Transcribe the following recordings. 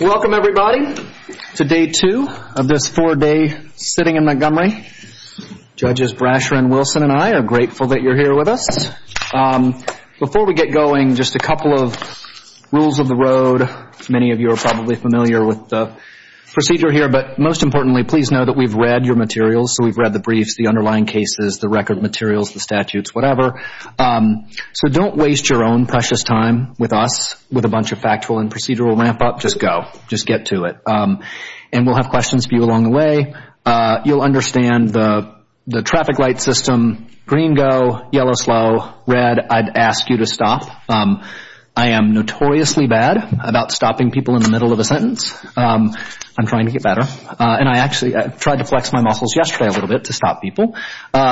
Welcome everybody to day two of this four-day sitting in Montgomery. Judges Brasher and Wilson and I are grateful that you're here with us. Before we get going, just a couple of rules of the road. Many of you are probably familiar with the procedure here, but most importantly, please know that we've read your materials. So we've read the briefs, the underlying cases, the record materials, the statutes, whatever. So don't waste your own precious time with us with a bunch of factual and procedural ramp-up. Just go. Just get to it. And we'll have questions for you along the way. You'll understand the traffic light system, green go, yellow slow, red, I'd ask you to stop. I am notoriously bad about stopping people in the middle of a sentence. I'm trying to get better. And I actually tried to flex my muscles yesterday a little bit to stop people.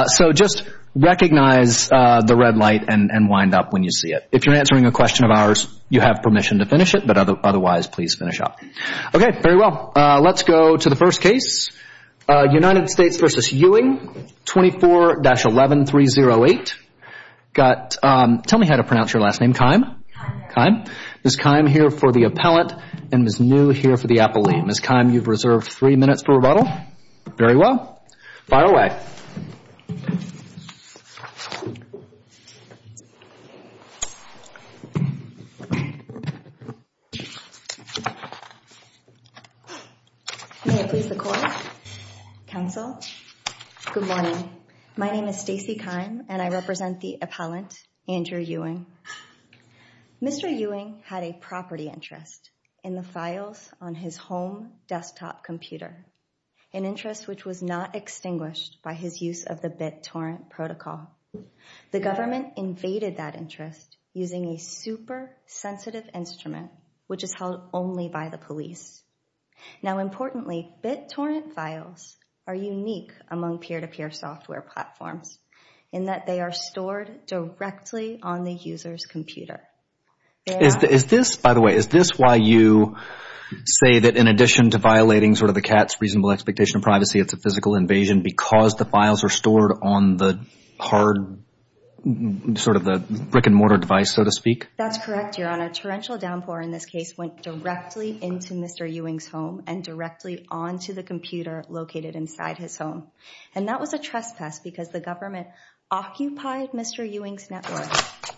So just recognize the red light and wind up when you see it. If you're answering a question of ours, you have permission to finish it. But otherwise, please finish up. Okay. Very well. Let's go to the first case. United States v. Ewing, 24-11308. Tell me how to pronounce your last name. Kime. Kime. Kime. Ms. Kime here for the appellant and Ms. New here for the appellee. Ms. Kime, you've observed three minutes for rebuttal. Very well. File away. May it please the Court, Counsel, good morning. My name is Stacy Kime and I represent the appellant, Andrew Ewing. Mr. Ewing had a property interest in the files on his home desktop computer, an interest which was not extinguished by his use of the BitTorrent protocol. The government invaded that interest using a super sensitive instrument which is held only by the police. Now, importantly, BitTorrent files are unique among peer-to-peer software platforms in that they are stored directly on the user's computer. Is this, by the way, is this why you say that in addition to violating sort of the cat's reasonable expectation of privacy, it's a physical invasion because the files are stored on the hard, sort of the brick and mortar device, so to speak? That's correct, Your Honor. Torrential downpour in this case went directly into Mr. Ewing's home and directly onto the computer located inside his home. And that was a trespass because the government occupied Mr. Ewing's network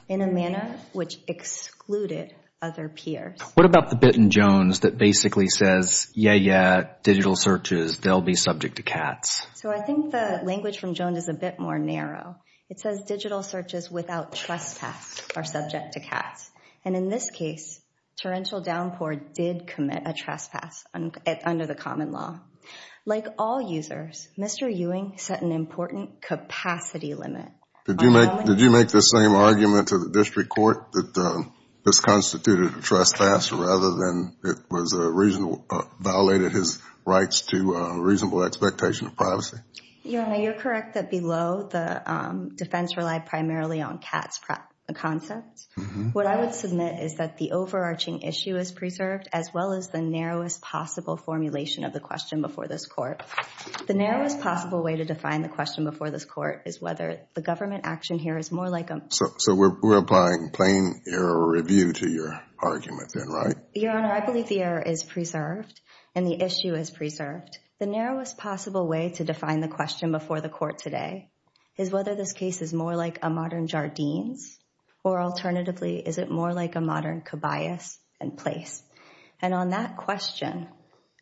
in a manner which excluded other peers. What about the bit in Jones that basically says, yeah, yeah, digital searches, they'll be subject to cats? So I think the language from Jones is a bit more narrow. It says digital searches without trespass are subject to cats. And in this case, torrential downpour did commit a trespass under the common law. Like all users, Mr. Ewing set an important capacity limit. Did you make the same argument to the district court that this constituted a trespass rather than it violated his rights to reasonable expectation of privacy? Your Honor, you're correct that below, the defense relied primarily on cats concepts. What I would submit is that the overarching issue is preserved as well as the narrowest possible formulation of the question before this court. The narrowest possible way to define the question before this court is whether the government action here is more like a So we're applying plain error review to your argument then, right? Your Honor, I believe the error is preserved and the issue is preserved. The narrowest possible way to define the question before the court today is whether this case is more like a modern Jardines, or alternatively, is it more like a modern Cobias and place? And on that question,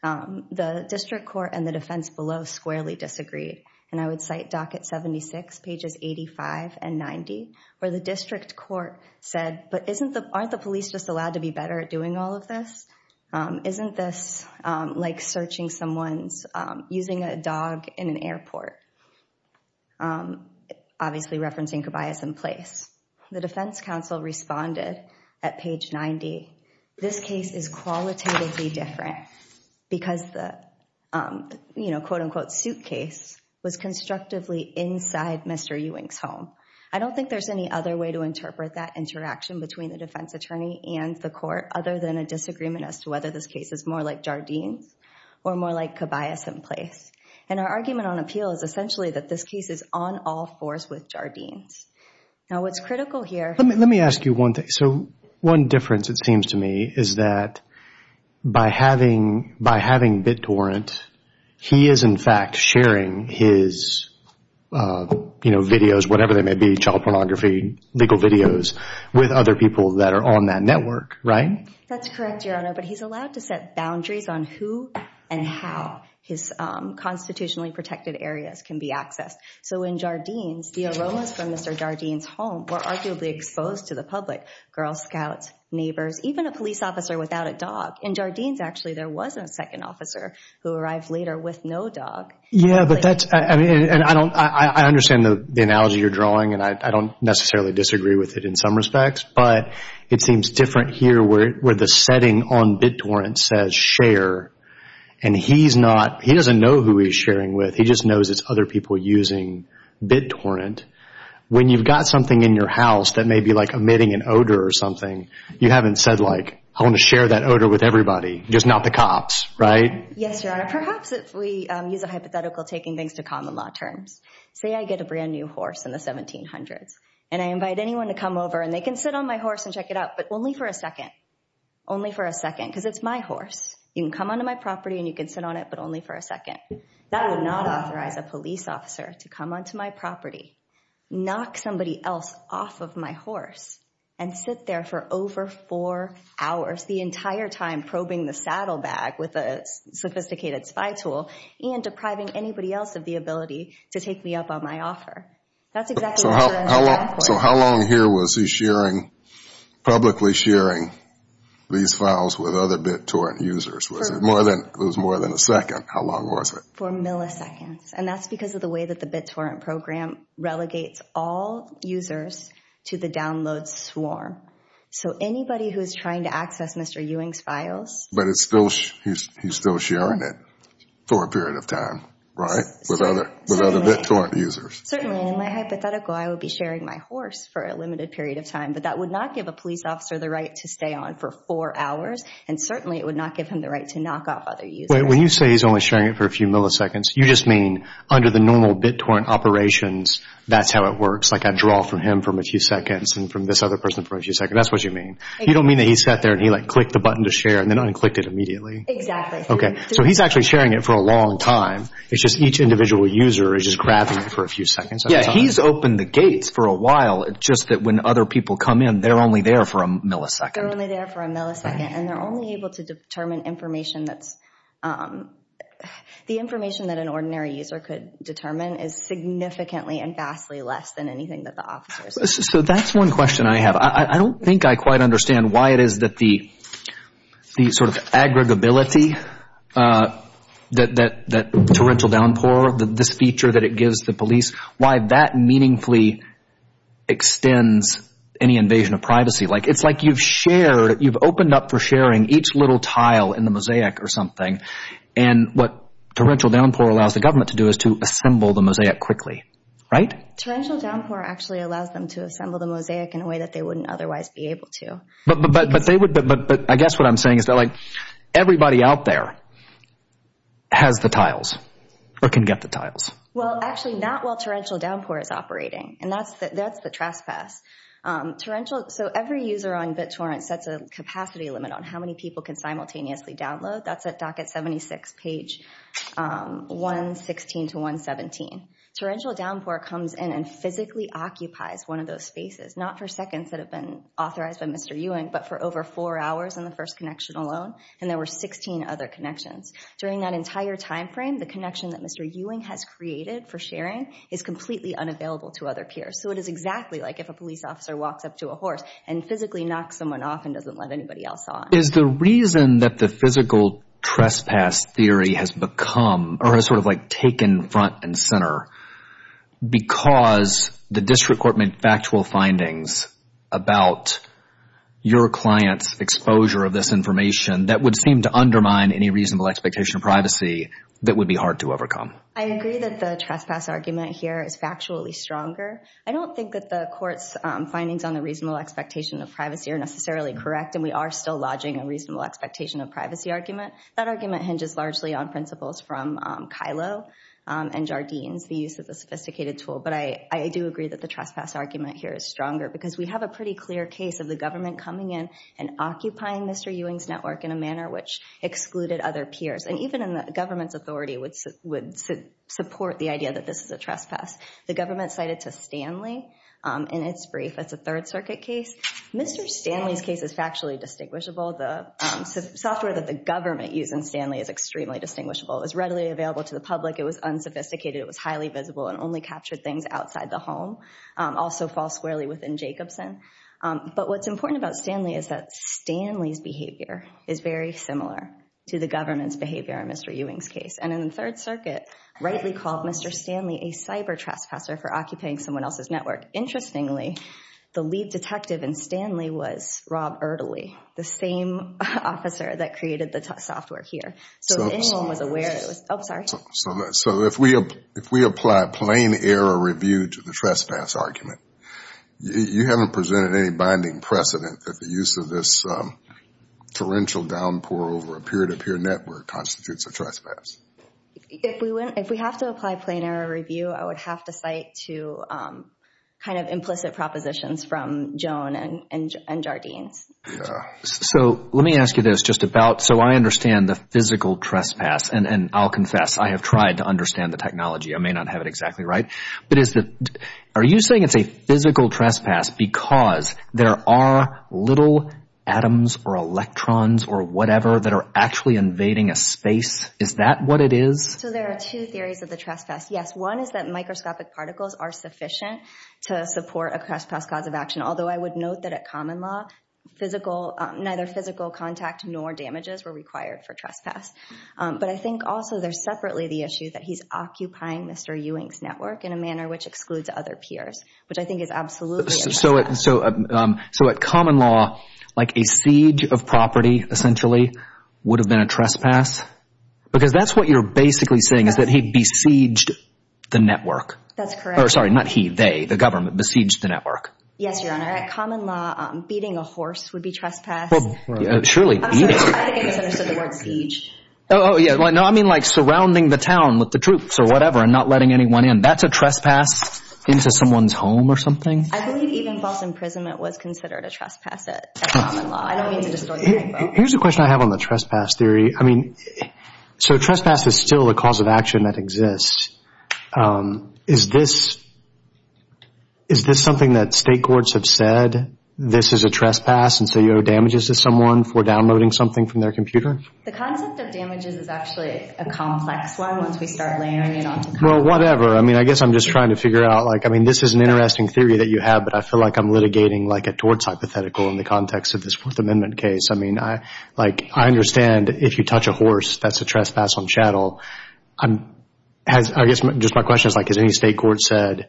the district court and the defense below squarely disagreed. And I would cite docket 76, pages 85 and 90, where the district court said, but aren't the police just allowed to be better at doing all of this? Isn't this like searching someone's using a dog in an airport? Obviously referencing Cobias and place. The defense counsel responded at page 90. This case is qualitatively different because the, you know, quote unquote suitcase was constructively inside Mr. Ewing's home. I don't think there's any other way to interpret that interaction between the defense attorney and the court other than a disagreement as to whether this case is more like Jardines or more like Cobias and place. And our argument on appeal is essentially that this case is on all fours with Jardines. Now what's critical here- Let me, let me ask you one thing. So one difference it seems to me is that by having, by having BitTorrent, he is in fact sharing his, you know, videos, whatever they may be, child pornography, legal videos with other people that are on that network, right? That's correct, Your Honor. But he's allowed to set boundaries on who and how his constitutionally protected areas can be accessed. So in Jardines, the aromas from Mr. Jardines' home were arguably exposed to the public. Girl scouts, neighbors, even a police officer without a dog. In Jardines actually there was a second officer who arrived later with no dog. Yeah, but that's, I mean, and I don't, I understand the analogy you're drawing and I don't necessarily disagree with it in some respects, but it seems different here where, where the setting on BitTorrent says share and he's not, he doesn't know who he's sharing with. He just knows it's other people using BitTorrent. When you've got something in your house that may be like emitting an odor or something, you haven't said like, I want to share that odor with everybody, just not the cops, right? Yes, Your Honor. Perhaps if we use a hypothetical, taking things to common law terms. Say I get a brand new horse in the 1700s and I invite anyone to come over and they can sit on my horse and check it out, but only for a second, only for a second, because it's my horse. You can come onto my property and you can sit on it, but only for a second. That would not authorize a police officer to come onto my property, knock somebody else off of my horse and sit there for over four hours, the entire time probing the saddlebag with a sophisticated spy tool and depriving anybody else of the ability to take me up on my offer. That's exactly what you're asking for. So how long here was he sharing, publicly sharing these files with other BitTorrent users? Was it more than a second? How long was it? For milliseconds. And that's because of the way that the BitTorrent program relegates all users to the download swarm. So anybody who is trying to access Mr. Ewing's files... But he's still sharing it for a period of time, right? With other BitTorrent users. Certainly. In my hypothetical, I would be sharing my horse for a limited period of time, but that would not give a police officer the right to stay on for four hours and certainly it would not give him the right to knock off other users. When you say he's only sharing it for a few milliseconds, you just mean under the normal BitTorrent operations, that's how it works. Like I draw from him for a few seconds and from this other person for a few seconds. That's what you mean. You don't mean that he sat there and he like clicked the button to share and then unclicked it immediately. Exactly. Okay. So he's actually sharing it for a long time. It's just each individual user is just grabbing it for a few seconds at a time. Yeah. He's opened the gates for a while just that when other people come in, they're only there for a millisecond. They're only there for a millisecond and they're only able to determine information that's... The information that an ordinary user could determine is significantly and vastly less than anything that the officers... So that's one question I have. I don't think I quite understand why it is that the sort of aggregability, that torrential downpour, this feature that it gives the police, why that meaningfully extends any invasion of privacy. It's like you've shared, you've opened up for sharing each little tile in the mosaic or something and what torrential downpour allows the government to do is to assemble the mosaic quickly, right? Torrential downpour actually allows them to assemble the mosaic in a way that they wouldn't otherwise be able to. But I guess what I'm saying is that everybody out there has the tiles or can get the tiles. Well, actually not while torrential downpour is operating and that's the trespass. So every user on BitTorrent sets a capacity limit on how many people can simultaneously download. That's at docket 76, page 116 to 117. Torrential downpour comes in and physically occupies one of those spaces, not for seconds that have been authorized by Mr. Ewing, but for over four hours in the first connection alone and there were 16 other connections. During that entire timeframe, the connection that Mr. Ewing has created for sharing is completely unavailable to other peers. So it is exactly like if a police officer walks up to a horse and physically knocks someone off and doesn't let anybody else on. Is the reason that the physical trespass theory has become or has sort of like taken front and center because the district court made factual findings about your client's exposure of this information that would seem to undermine any reasonable expectation of privacy that would be hard to overcome? I agree that the trespass argument here is factually stronger. I don't think that the court's findings on the reasonable expectation of privacy are necessarily correct and we are still lodging a reasonable expectation of privacy argument. That argument hinges largely on principles from Kylo and Jardine's, the use of the sophisticated tool. But I do agree that the trespass argument here is stronger because we have a pretty clear case of the government coming in and occupying Mr. Ewing's network in a manner which excluded other peers and even in the government's authority would support the idea that this is a trespass. The government cited to Stanley in its brief as a Third Circuit case. Mr. Stanley's case is factually distinguishable. The software that the government used in Stanley is extremely distinguishable. It was readily available to the public. It was unsophisticated. It was highly visible and only captured things outside the home. Also false squarely within Jacobson. But what's important about Stanley is that Stanley's behavior is very similar to the government's behavior in Mr. Ewing's case. And in the Third Circuit rightly called Mr. Stanley a cyber trespasser for occupying someone else's network. Interestingly, the lead detective in Stanley was Rob Erdely, the same officer that created the software here. So if we apply plain error review to the trespass argument, you haven't presented any binding precedent that the use of this torrential downpour over a peer-to-peer network constitutes a trespass. If we have to apply plain error review, I would have to cite two kind of implicit propositions from Joan and Jardine's. So let me ask you this just about, so I understand the physical trespass, and I'll confess I have tried to understand the technology. I may not have it exactly right. But is the, are you saying it's a physical trespass because there are little atoms or electrons or whatever that are actually invading a space? Is that what it is? So there are two theories of the trespass. Yes, one is that microscopic particles are sufficient to support a trespass cause of action. Although I would note that at common law, neither physical contact nor damages were required for trespass. But I think also there's separately the issue that he's occupying Mr. Ewing's network in a manner which excludes other peers, which I think is absolutely a trespass. So at common law, like a siege of property essentially would have been a trespass? Because that's what you're basically saying is that he besieged the network. That's correct. Or sorry, not he, they, the government besieged the network. Yes, Your Honor. At common law, beating a horse would be trespass. Well, surely beating. I'm sorry, I think I misunderstood the word siege. Oh, yeah. No, I mean like surrounding the town with the troops or whatever and not letting anyone in. That's a trespass into someone's home or something? I believe even false imprisonment was considered a trespass at common law. I don't mean to distort the info. Here's a question I have on the trespass theory. I mean, so trespass is still a cause of action that exists. Is this, is this something that state courts have said, this is a trespass and so you owe damages to someone for downloading something from their computer? The concept of damages is actually a complex one once we start layering it onto common Well, whatever. I mean, I guess I'm just trying to figure out like, I mean, this is an interesting theory that you have, but I feel like I'm litigating like a torts hypothetical in the context of this Fourth Amendment case. I mean, I, like, I understand if you touch a horse, that's a trespass on chattel. Has, I guess, just my question is like, has any state court said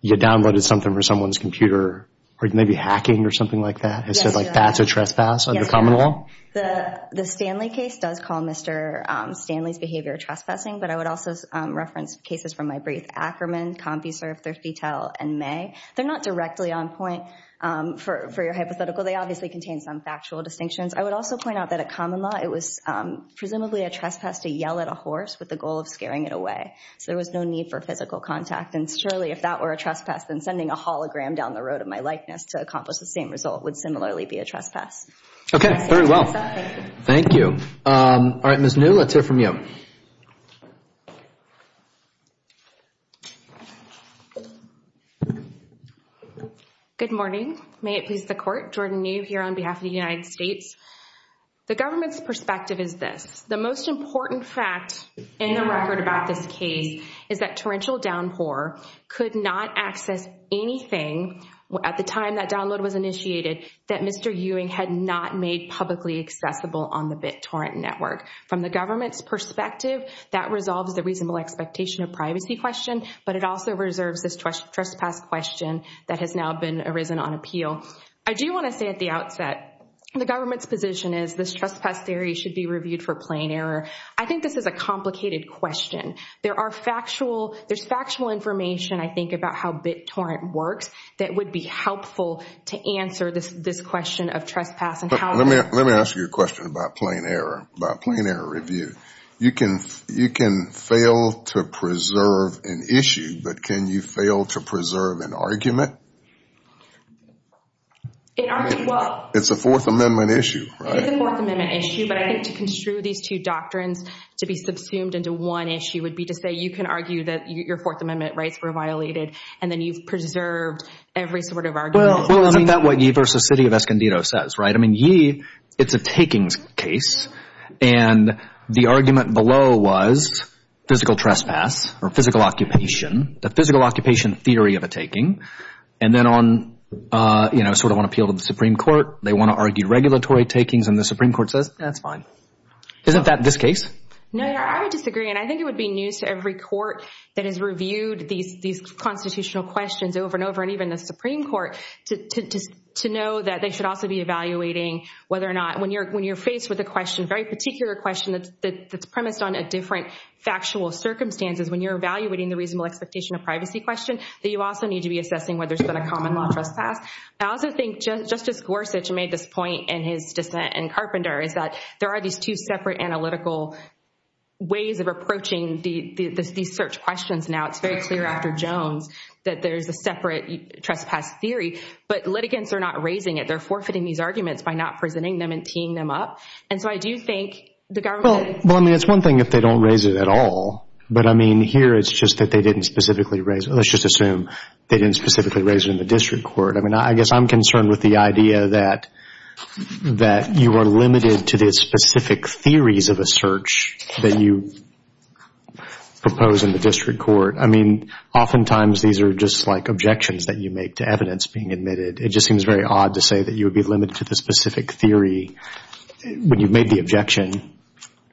you downloaded something from someone's computer or maybe hacking or something like that? Yes, Your Honor. Has said like that's a trespass under common law? Yes, Your Honor. The Stanley case does call Mr. Stanley's behavior trespassing, but I would also reference cases from my brief, Ackerman, CompuServe, ThirstyTel, and May. They're not directly on point for your hypothetical. They obviously contain some factual distinctions. I would also point out that a common law, it was presumably a trespass to yell at a horse with the goal of scaring it away. So there was no need for physical contact. And surely if that were a trespass, then sending a hologram down the road of my likeness to accomplish the same result would similarly be a trespass. Okay, very well. Thank you. All right, Ms. New, let's hear from you. Good morning. May it please the Court. Jordan New here on behalf of the United States. The government's perspective is this. The most important fact in the record about this case is that Torrential Downpour could not access anything at the time that download was initiated that Mr. Ewing had not made publicly accessible on the BitTorrent network. From the government's perspective, that resolves the reasonable expectation of privacy question, but it also reserves this trespass question that has now been arisen on appeal. I do want to say at the outset, the government's position is this trespass theory should be reviewed for plain error. I think this is a complicated question. There's factual information, I think, about how BitTorrent works that would be helpful to answer this question of trespass and how it was— I'm going to ask you a question about plain error, about plain error review. You can fail to preserve an issue, but can you fail to preserve an argument? It's a Fourth Amendment issue, right? It is a Fourth Amendment issue, but I think to construe these two doctrines to be subsumed into one issue would be to say you can argue that your Fourth Amendment rights were violated and then you've preserved every sort of argument. Well, isn't that what Yee v. City of Escondido says, right? I mean, Yee, it's a takings case, and the argument below was physical trespass or physical occupation, the physical occupation theory of a taking, and then on, you know, sort of on appeal to the Supreme Court, they want to argue regulatory takings, and the Supreme Court says, that's fine. Isn't that this case? No, I would disagree, and I think it would be news to every court that has reviewed these constitutional questions over and over, and even the Supreme Court, to know that they should also be evaluating whether or not, when you're faced with a question, a very particular question that's premised on a different factual circumstances, when you're evaluating the reasonable expectation of privacy question, that you also need to be assessing whether there's been a common law trespass. I also think Justice Gorsuch made this point in his dissent in Carpenter, is that there are these two separate analytical ways of approaching these search questions now. It's very clear after Jones that there's a separate trespass theory, but litigants are not raising it. They're forfeiting these arguments by not presenting them and teeing them up, and so I do think the government... Well, I mean, it's one thing if they don't raise it at all, but I mean, here it's just that they didn't specifically raise it. Let's just assume they didn't specifically raise it in the district court. I mean, I guess I'm concerned with the idea that you are limited to the specific theories of a search that you propose in the district court. I mean, oftentimes these are just like objections that you make to evidence being admitted. It just seems very odd to say that you would be limited to the specific theory when you made the objection.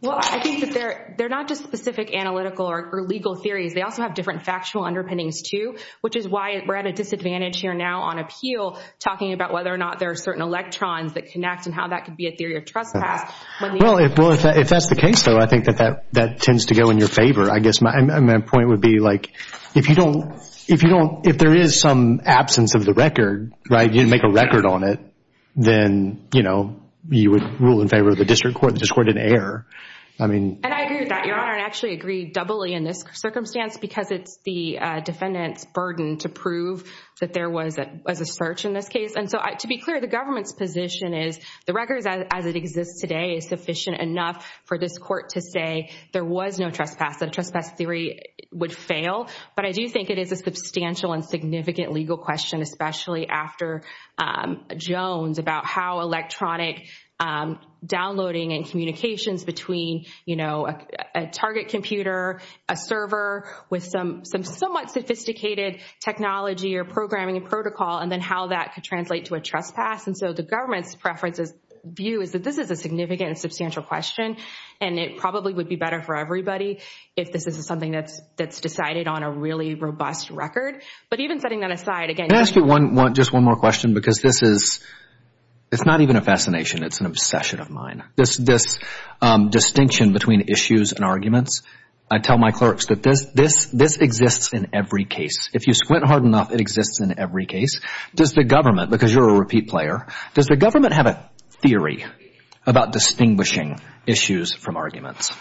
Well, I think that they're not just specific analytical or legal theories. They also have different factual underpinnings too, which is why we're at a disadvantage here now on appeal talking about whether or not there are certain electrons that connect and how that could be a theory of trespass. Well, if that's the case, though, I think that that tends to go in your favor. I guess my point would be like, if you don't... If there is some absence of the record, you didn't make a record on it, then you would rule in favor of the district court. The district court didn't error. I mean... And I agree with that, Your Honor. I actually agree doubly in this circumstance because it's the defendant's burden to prove that there was a search in this case. And so to be clear, the government's position is the record as it exists today is sufficient enough for this court to say there was no trespass, that a trespass theory would fail. But I do think it is a substantial and significant legal question, especially after Jones about how electronic downloading and communications between a target computer, a server with some somewhat sophisticated technology or programming and protocol, and then how that could translate to a trespass. And so the government's preference's view is that this is a significant and substantial question and it probably would be better for everybody if this is something that's decided on a really robust record. But even setting that aside, again... Can I ask you just one more question? Because this is... It's not even a fascination. It's an obsession of mine. This distinction between issues and arguments, I tell my clerks that this exists in every case. If you squint hard enough, it exists in every case. Does the government, because you're a repeat player, does the government have a theory about distinguishing issues from arguments?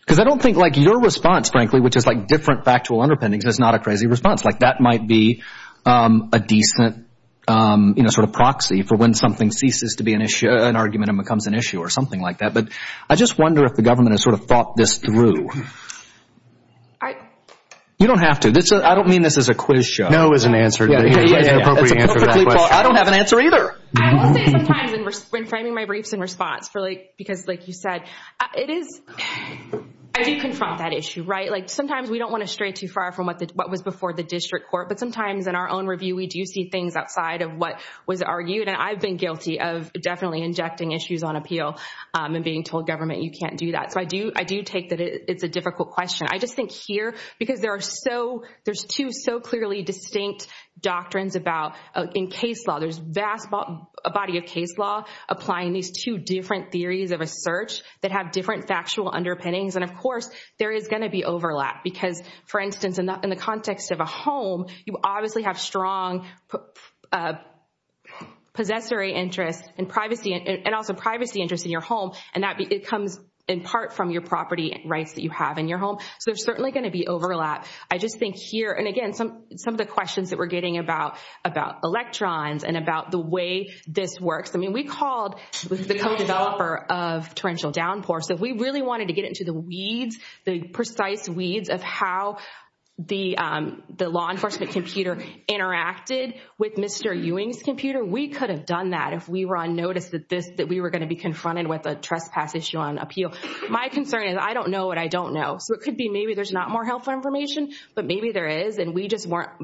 Because I don't think your response, frankly, which is like different factual underpinnings, is not a crazy response. That might be a decent sort of proxy for when something ceases to be an argument and becomes an issue or something like that. But I just wonder if the government has sort of thought this through. You don't have to. I don't mean this as a quiz show. No is an appropriate answer to that question. I don't have an answer either. I will say sometimes when framing my briefs in response, because like you said, it is... I do confront that issue, right? Sometimes we don't want to stray too far from what was before the district court. But sometimes in our own review, we do see things outside of what was argued. And I've been guilty of definitely injecting issues on appeal and being told, government, you can't do that. So I do take that it's a difficult question. I just think here, because there are so... There's two so clearly distinct doctrines about... In case law, there's vast body of case law applying these two different theories of a search that have different factual underpinnings. And of course, there is going to be overlap. Because for instance, in the context of a home, you obviously have strong possessory interests and privacy and also privacy interests in your home. And it comes in part from your property rights that you have in your home. So there's certainly going to be overlap. I just think here, and again, some of the questions that we're getting about electrons and about the way this works. I mean, we called the co-developer of torrential downpour. So if we really wanted to get into the weeds, the precise weeds of how the law enforcement computer interacted with Mr. Ewing's computer, we could have done that if we were on notice that we were going to be confronted with a trespass issue on appeal. My concern is I don't know what I don't know. So it could be maybe there's not more helpful information, but maybe there is. And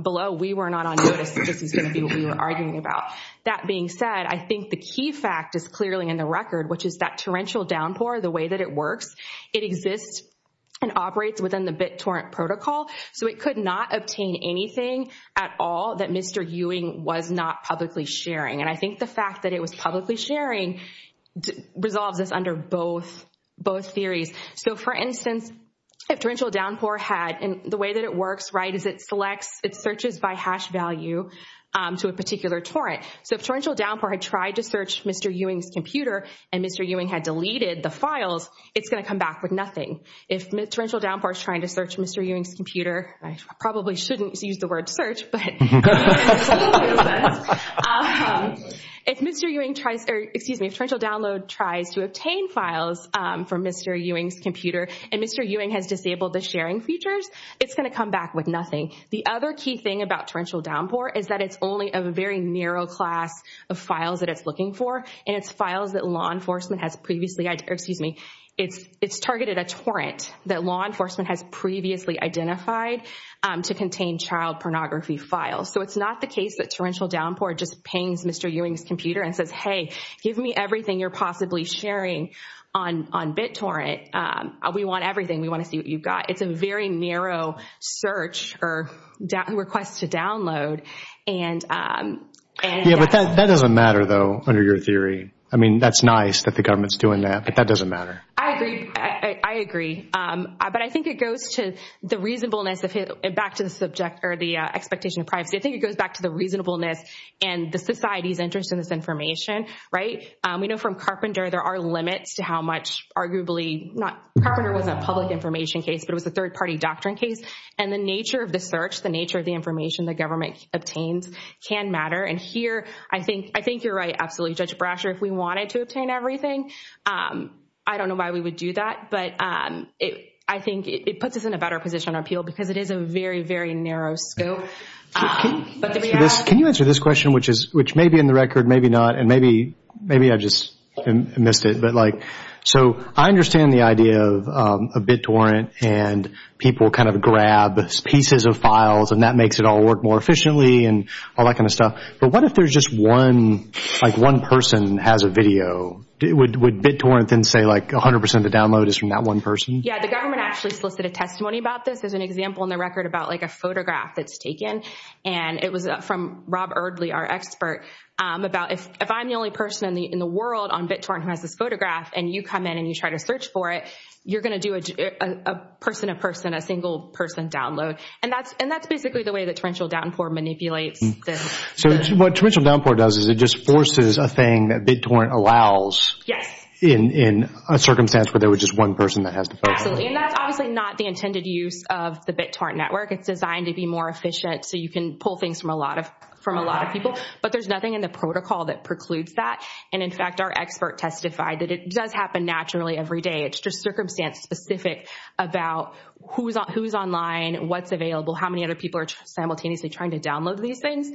below, we were not on notice that this was going to be what we were arguing about. That being said, I think the key fact is clearly in the record, which is that torrential downpour, the way that it works, it exists and operates within the BitTorrent protocol. So it could obtain anything at all that Mr. Ewing was not publicly sharing. And I think the fact that it was publicly sharing resolves this under both theories. So for instance, if torrential downpour had, and the way that it works is it searches by hash value to a particular torrent. So if torrential downpour had tried to search Mr. Ewing's computer and Mr. Ewing had deleted the files, it's going to come back with nothing. If torrential downpour is trying to search Mr. Ewing's computer, I probably shouldn't use the word search, but if Mr. Ewing tries, or excuse me, if torrential download tries to obtain files from Mr. Ewing's computer and Mr. Ewing has disabled the sharing features, it's going to come back with nothing. The other key thing about torrential downpour is that it's only a very narrow class of files that it's looking for. And it's files that law enforcement has previously, or excuse me, it's targeted a torrent that law enforcement has previously identified to contain child pornography files. So it's not the case that torrential downpour just pings Mr. Ewing's computer and says, hey, give me everything you're possibly sharing on BitTorrent. We want everything. We want to see what you've got. It's a very narrow search or request to download. Yeah, but that doesn't matter though, under your theory. I mean, that's nice that the government's doing that, but that doesn't matter. I agree. I agree. But I think it goes to the reasonableness, back to the subject, or the expectation of privacy. I think it goes back to the reasonableness and the society's interest in this information, right? We know from Carpenter there are limits to how much arguably, Carpenter was a public information case, but it was a third party doctrine case. And the nature of the search, the nature of the information the government obtains can matter. I think you're right, absolutely. Judge Brasher, if we wanted to obtain everything, I don't know why we would do that, but I think it puts us in a better position on appeal because it is a very, very narrow scope. Can you answer this question, which may be in the record, maybe not, and maybe I just missed it. So I understand the idea of BitTorrent and people kind of grab pieces of files and that makes it all work more efficiently and all that kind of stuff. But what if there's just one, like one person has a video? Would BitTorrent then say like 100% of the download is from that one person? Yeah, the government actually solicited testimony about this. There's an example in the record about like a photograph that's taken and it was from Rob Eardley, our expert, about if I'm the only person in the world on BitTorrent who has this photograph and you come in and you try to search for it, you're going to do a person a person, a single person download. And that's basically the way that torrential downpour manipulates this. So what torrential downpour does is it just forces a thing that BitTorrent allows in a circumstance where there was just one person that has to focus on it. And that's obviously not the intended use of the BitTorrent network. It's designed to be more efficient so you can pull things from a lot of people. But there's nothing in the protocol that precludes that. And in fact, our expert testified that it does happen naturally every day. It's just circumstance specific about who's online, what's available, how many other people are simultaneously trying to download these things,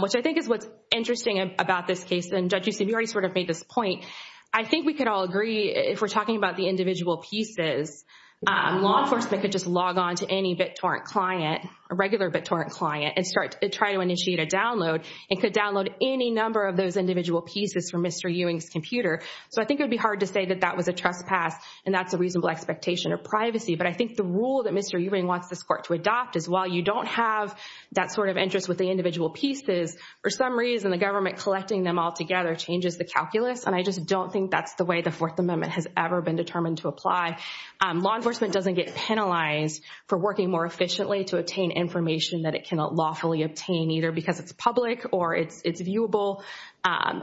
which I think is what's interesting about this case. And Judge Ucimuri sort of made this point. I think we could all agree if we're talking about the individual pieces, law enforcement could just log on to any BitTorrent client, a regular BitTorrent client, and start to try to initiate a download and could download any number of those individual pieces from Mr. Ewing's computer. So I think it would be hard to say that that was a trespass and that's a reasonable expectation of privacy. But I think the rule that Mr. Ewing wants this court to adopt is while you don't have that sort of interest with the individual pieces, for some reason the government collecting them all together changes the calculus. And I just don't think that's the way the Fourth Amendment has ever been determined to apply. Law enforcement doesn't get penalized for working more efficiently to obtain information that it cannot lawfully obtain, either because it's public or it's viewable.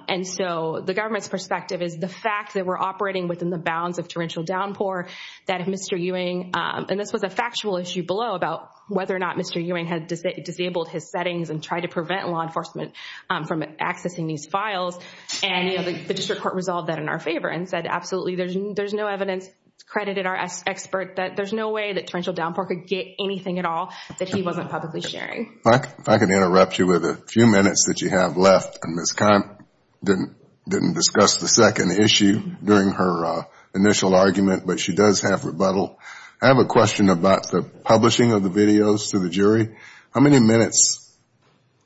And so the government's perspective is the fact that we're operating within the bounds of torrential downpour, that if Mr. Ewing, and this was a factual issue below about whether or not Mr. Ewing had disabled his settings and tried to prevent law enforcement from accessing these files, and the district court resolved that in our favor and said absolutely there's no evidence, credited our expert that there's no way that torrential downpour could get anything at all that he wasn't publicly sharing. If I can interrupt you with a few minutes that you have left, and Ms. Kant didn't discuss the issue during her initial argument, but she does have rebuttal. I have a question about the publishing of the videos to the jury. How many minutes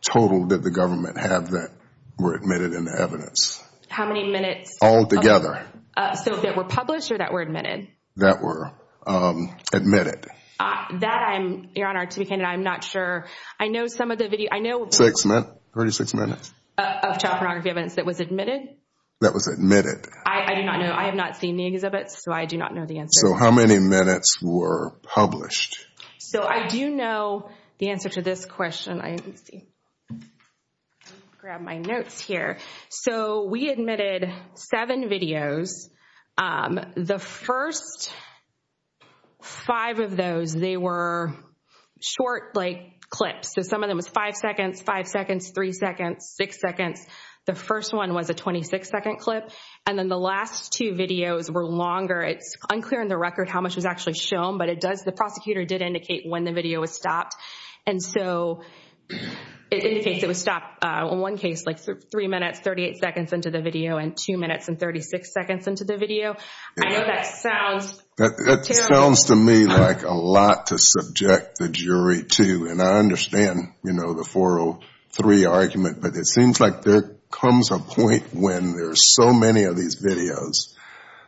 total did the government have that were admitted in the evidence? How many minutes? Altogether. So that were published or that were admitted? That were admitted. That I'm, Your Honor, to be candid, I'm not sure. I know some of the video, I know- Six minutes, 36 minutes. Of child pornography evidence that was admitted? That was admitted. I do not know. I have not seen the exhibits, so I do not know the answer. So how many minutes were published? So I do know the answer to this question. Let's see. Grab my notes here. So we admitted seven videos. The first five of those, they were short like clips. So some of them was five seconds, five seconds, three seconds, six seconds. The first one was a 26 second clip. And then the last two videos were longer. It's unclear in the record how much was actually shown, but it does, the prosecutor did indicate when the video was stopped. And so it indicates it was stopped in one case, like three minutes, 38 seconds into the video and two minutes and 36 seconds into the video. I know that sounds terrible. That sounds to me like a lot to subject the jury to. And I understand, you know, the 403 argument, but it seems like there comes a point when there's so many of these videos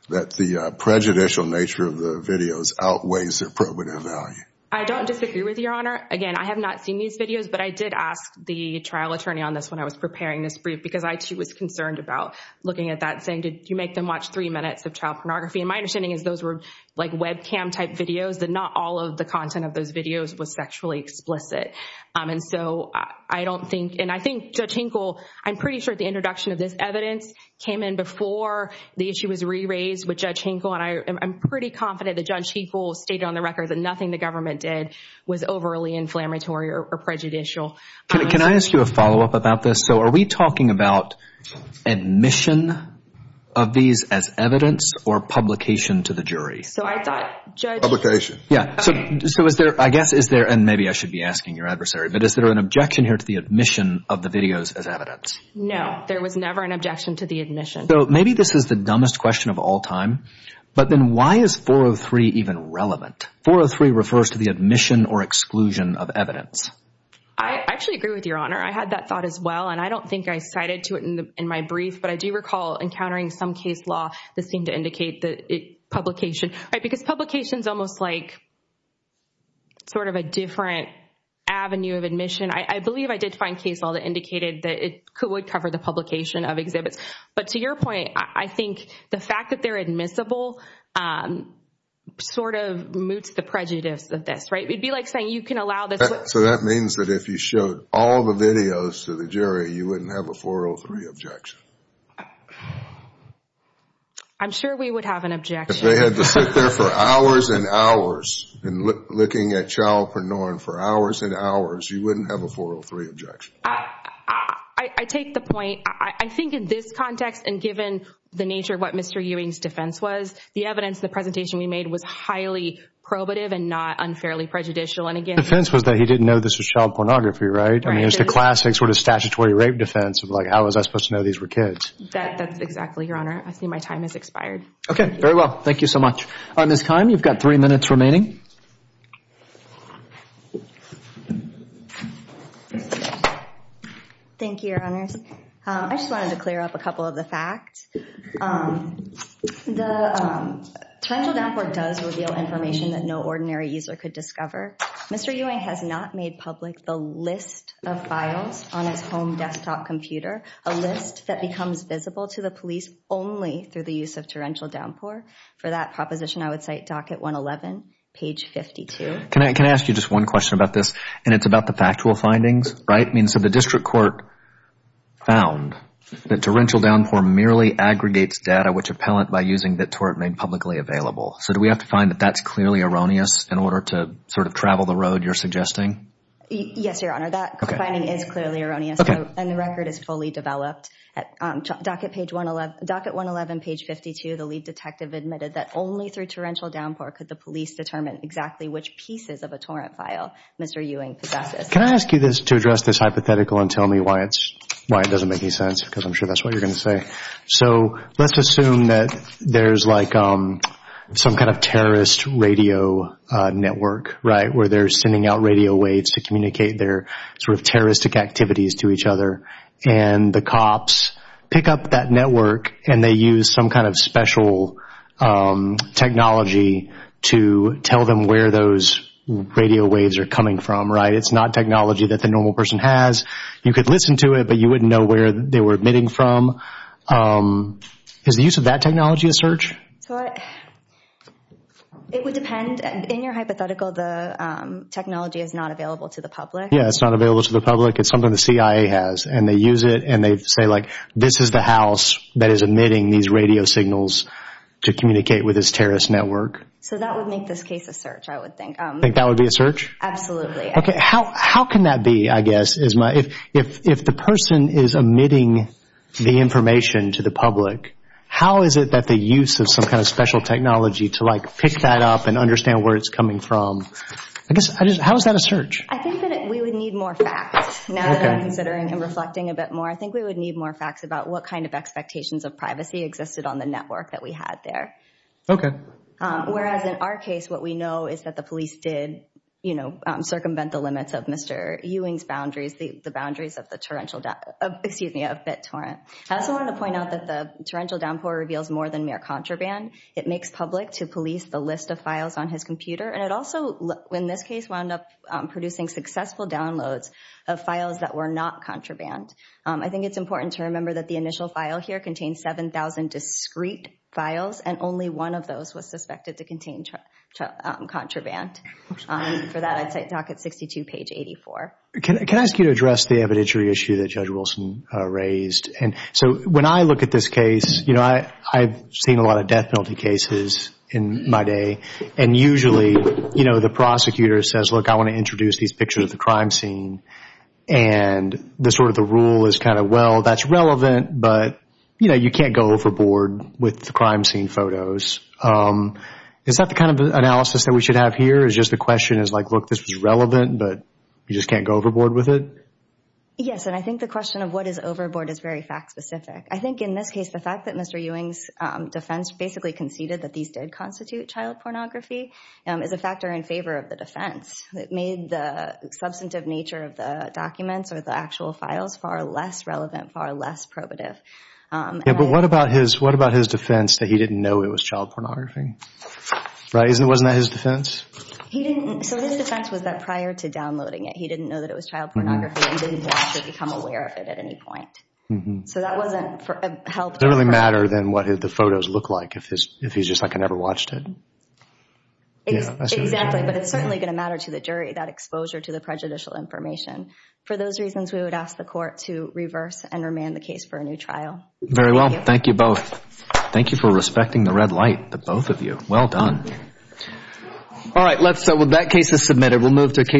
that the prejudicial nature of the videos outweighs their probative value. I don't disagree with Your Honor. Again, I have not seen these videos, but I did ask the trial attorney on this when I was preparing this brief because I too was concerned about looking at that and saying, did you make them watch three minutes of child pornography? And my understanding is those were like webcam type videos, that not all of the content of those was sexually explicit. And so I don't think, and I think Judge Hinkle, I'm pretty sure the introduction of this evidence came in before the issue was re-raised with Judge Hinkle. And I'm pretty confident that Judge Hinkle stated on the record that nothing the government did was overly inflammatory or prejudicial. Can I ask you a follow-up about this? So are we talking about admission of these as evidence or publication to the jury? So I thought Judge... Publication. Yeah. So is there, I guess, is there, and maybe I should be asking your adversary, but is there an objection here to the admission of the videos as evidence? No, there was never an objection to the admission. So maybe this is the dumbest question of all time, but then why is 403 even relevant? 403 refers to the admission or exclusion of evidence. I actually agree with Your Honor. I had that thought as well. And I don't think I cited to it in my brief, but I do recall encountering some case law that seemed to indicate that publication, because publication is almost like sort of a different avenue of admission. I believe I did find case law that indicated that it would cover the publication of exhibits. But to your point, I think the fact that they're admissible sort of moots the prejudice of this, right? It'd be like saying you can allow this... So that means that if you showed all the videos to the jury, you wouldn't have a 403 objection? I'm sure we would have an objection. If they had to sit there for hours and hours, and looking at child pornography for hours and hours, you wouldn't have a 403 objection? I take the point. I think in this context, and given the nature of what Mr. Ewing's defense was, the evidence, the presentation we made was highly probative and not unfairly prejudicial. And again... The defense was that he didn't know this was child pornography, right? I mean, it's the classic sort of statutory rape defense of like, how was I supposed to know these were kids? That's exactly, Your Honor. I see my time has expired. Okay. Very well. Thank you so much. All right, Ms. Keim, you've got three minutes remaining. Thank you, Your Honors. I just wanted to clear up a couple of the facts. The torrential downpour does reveal information that no ordinary user could discover. Mr. Ewing has not made public the list of files on his home desktop computer, a list that becomes visible to the police only through the use of torrential downpour. For that proposition, I would cite Docket 111, page 52. Can I ask you just one question about this? And it's about the factual findings, right? I mean, so the district court found that torrential downpour merely aggregates data which appellant by using the tort made publicly available. So do we have to find that that's clearly erroneous in order to sort of travel the road you're suggesting? Yes, Your Honor, that finding is clearly erroneous. And the record is fully developed. Docket 111, page 52, the lead detective admitted that only through torrential downpour could the police determine exactly which pieces of a torrent file Mr. Ewing possesses. Can I ask you to address this hypothetical and tell me why it doesn't make any sense? Because I'm sure that's what you're going to say. So let's assume that there's like some kind of terrorist radio network, right, where they're sending out radio waves to communicate their sort of terroristic activities to each other. And the cops pick up that network and they use some kind of special technology to tell them where those radio waves are coming from, right? It's not technology that the normal person has. You could listen to it, but you wouldn't know where they were emitting from. Is the use of that technology a search? It would depend. In your hypothetical, the technology is not available to the public. Yeah, it's not available to the public. It's something the CIA has. And they use it and they say like, this is the house that is emitting these radio signals to communicate with this terrorist network. So that would make this case a search, I would think. Think that would be a search? Absolutely. Okay, how can that be, I guess, Isma? If the person is emitting the information to the public, how is it that the use of some kind of special technology to like pick that up and understand where it's coming from? I guess, how is that a search? I think that we would need more facts. Now that I'm considering and reflecting a bit more, I think we would need more facts about what kind of expectations of privacy existed on the network that we had there. Okay. Whereas in our case, what we know is that the police did, you know, circumvent the limits of Mr. Ewing's boundaries, the boundaries of the torrential, excuse me, of BitTorrent. I also wanted to point out that the torrential downpour reveals more than mere contraband. It makes public to police the list of files on his computer. And it also, in this case, wound up producing successful downloads of files that were not contraband. I think it's important to remember that the initial file here contains 7,000 discrete files, and only one of those was suspected to contain contraband. For that, I'd cite docket 62, page 84. Can I ask you to address the evidentiary issue that Judge Wilson raised? And so when I look at this case, you know, I've seen a lot of death penalty cases in my day. And usually, you know, the prosecutor says, look, I want to introduce these pictures of the crime scene. And the sort of the rule is kind of, well, that's relevant, but, you know, you can't go overboard with the crime scene photos. Is that the kind of analysis that we should have here? Is just the question is like, look, this was relevant, but you just can't go overboard with it? Yes, and I think the question of what is overboard is very fact specific. I think in this case, the fact that Mr. Ewing's defense basically conceded that these did constitute child pornography is a factor in favor of the defense. It made the substantive nature of the documents or the actual files far less relevant, far less probative. Yeah, but what about his defense that he didn't know it was child pornography? Right? Wasn't that his defense? He didn't. So his defense was that prior to downloading it, he didn't know that it was child pornography and didn't have to become aware of it at any point. So that wasn't helped. Does it really matter then what the photos look like if he's just like, I never watched it? Exactly, but it's certainly going to matter to the jury, that exposure to the prejudicial information. For those reasons, we would ask the court to reverse and remand the case for a new trial. Very well. Thank you both. Thank you for respecting the red light, the both of you. Well done. All right, that case is submitted. We'll move to a case.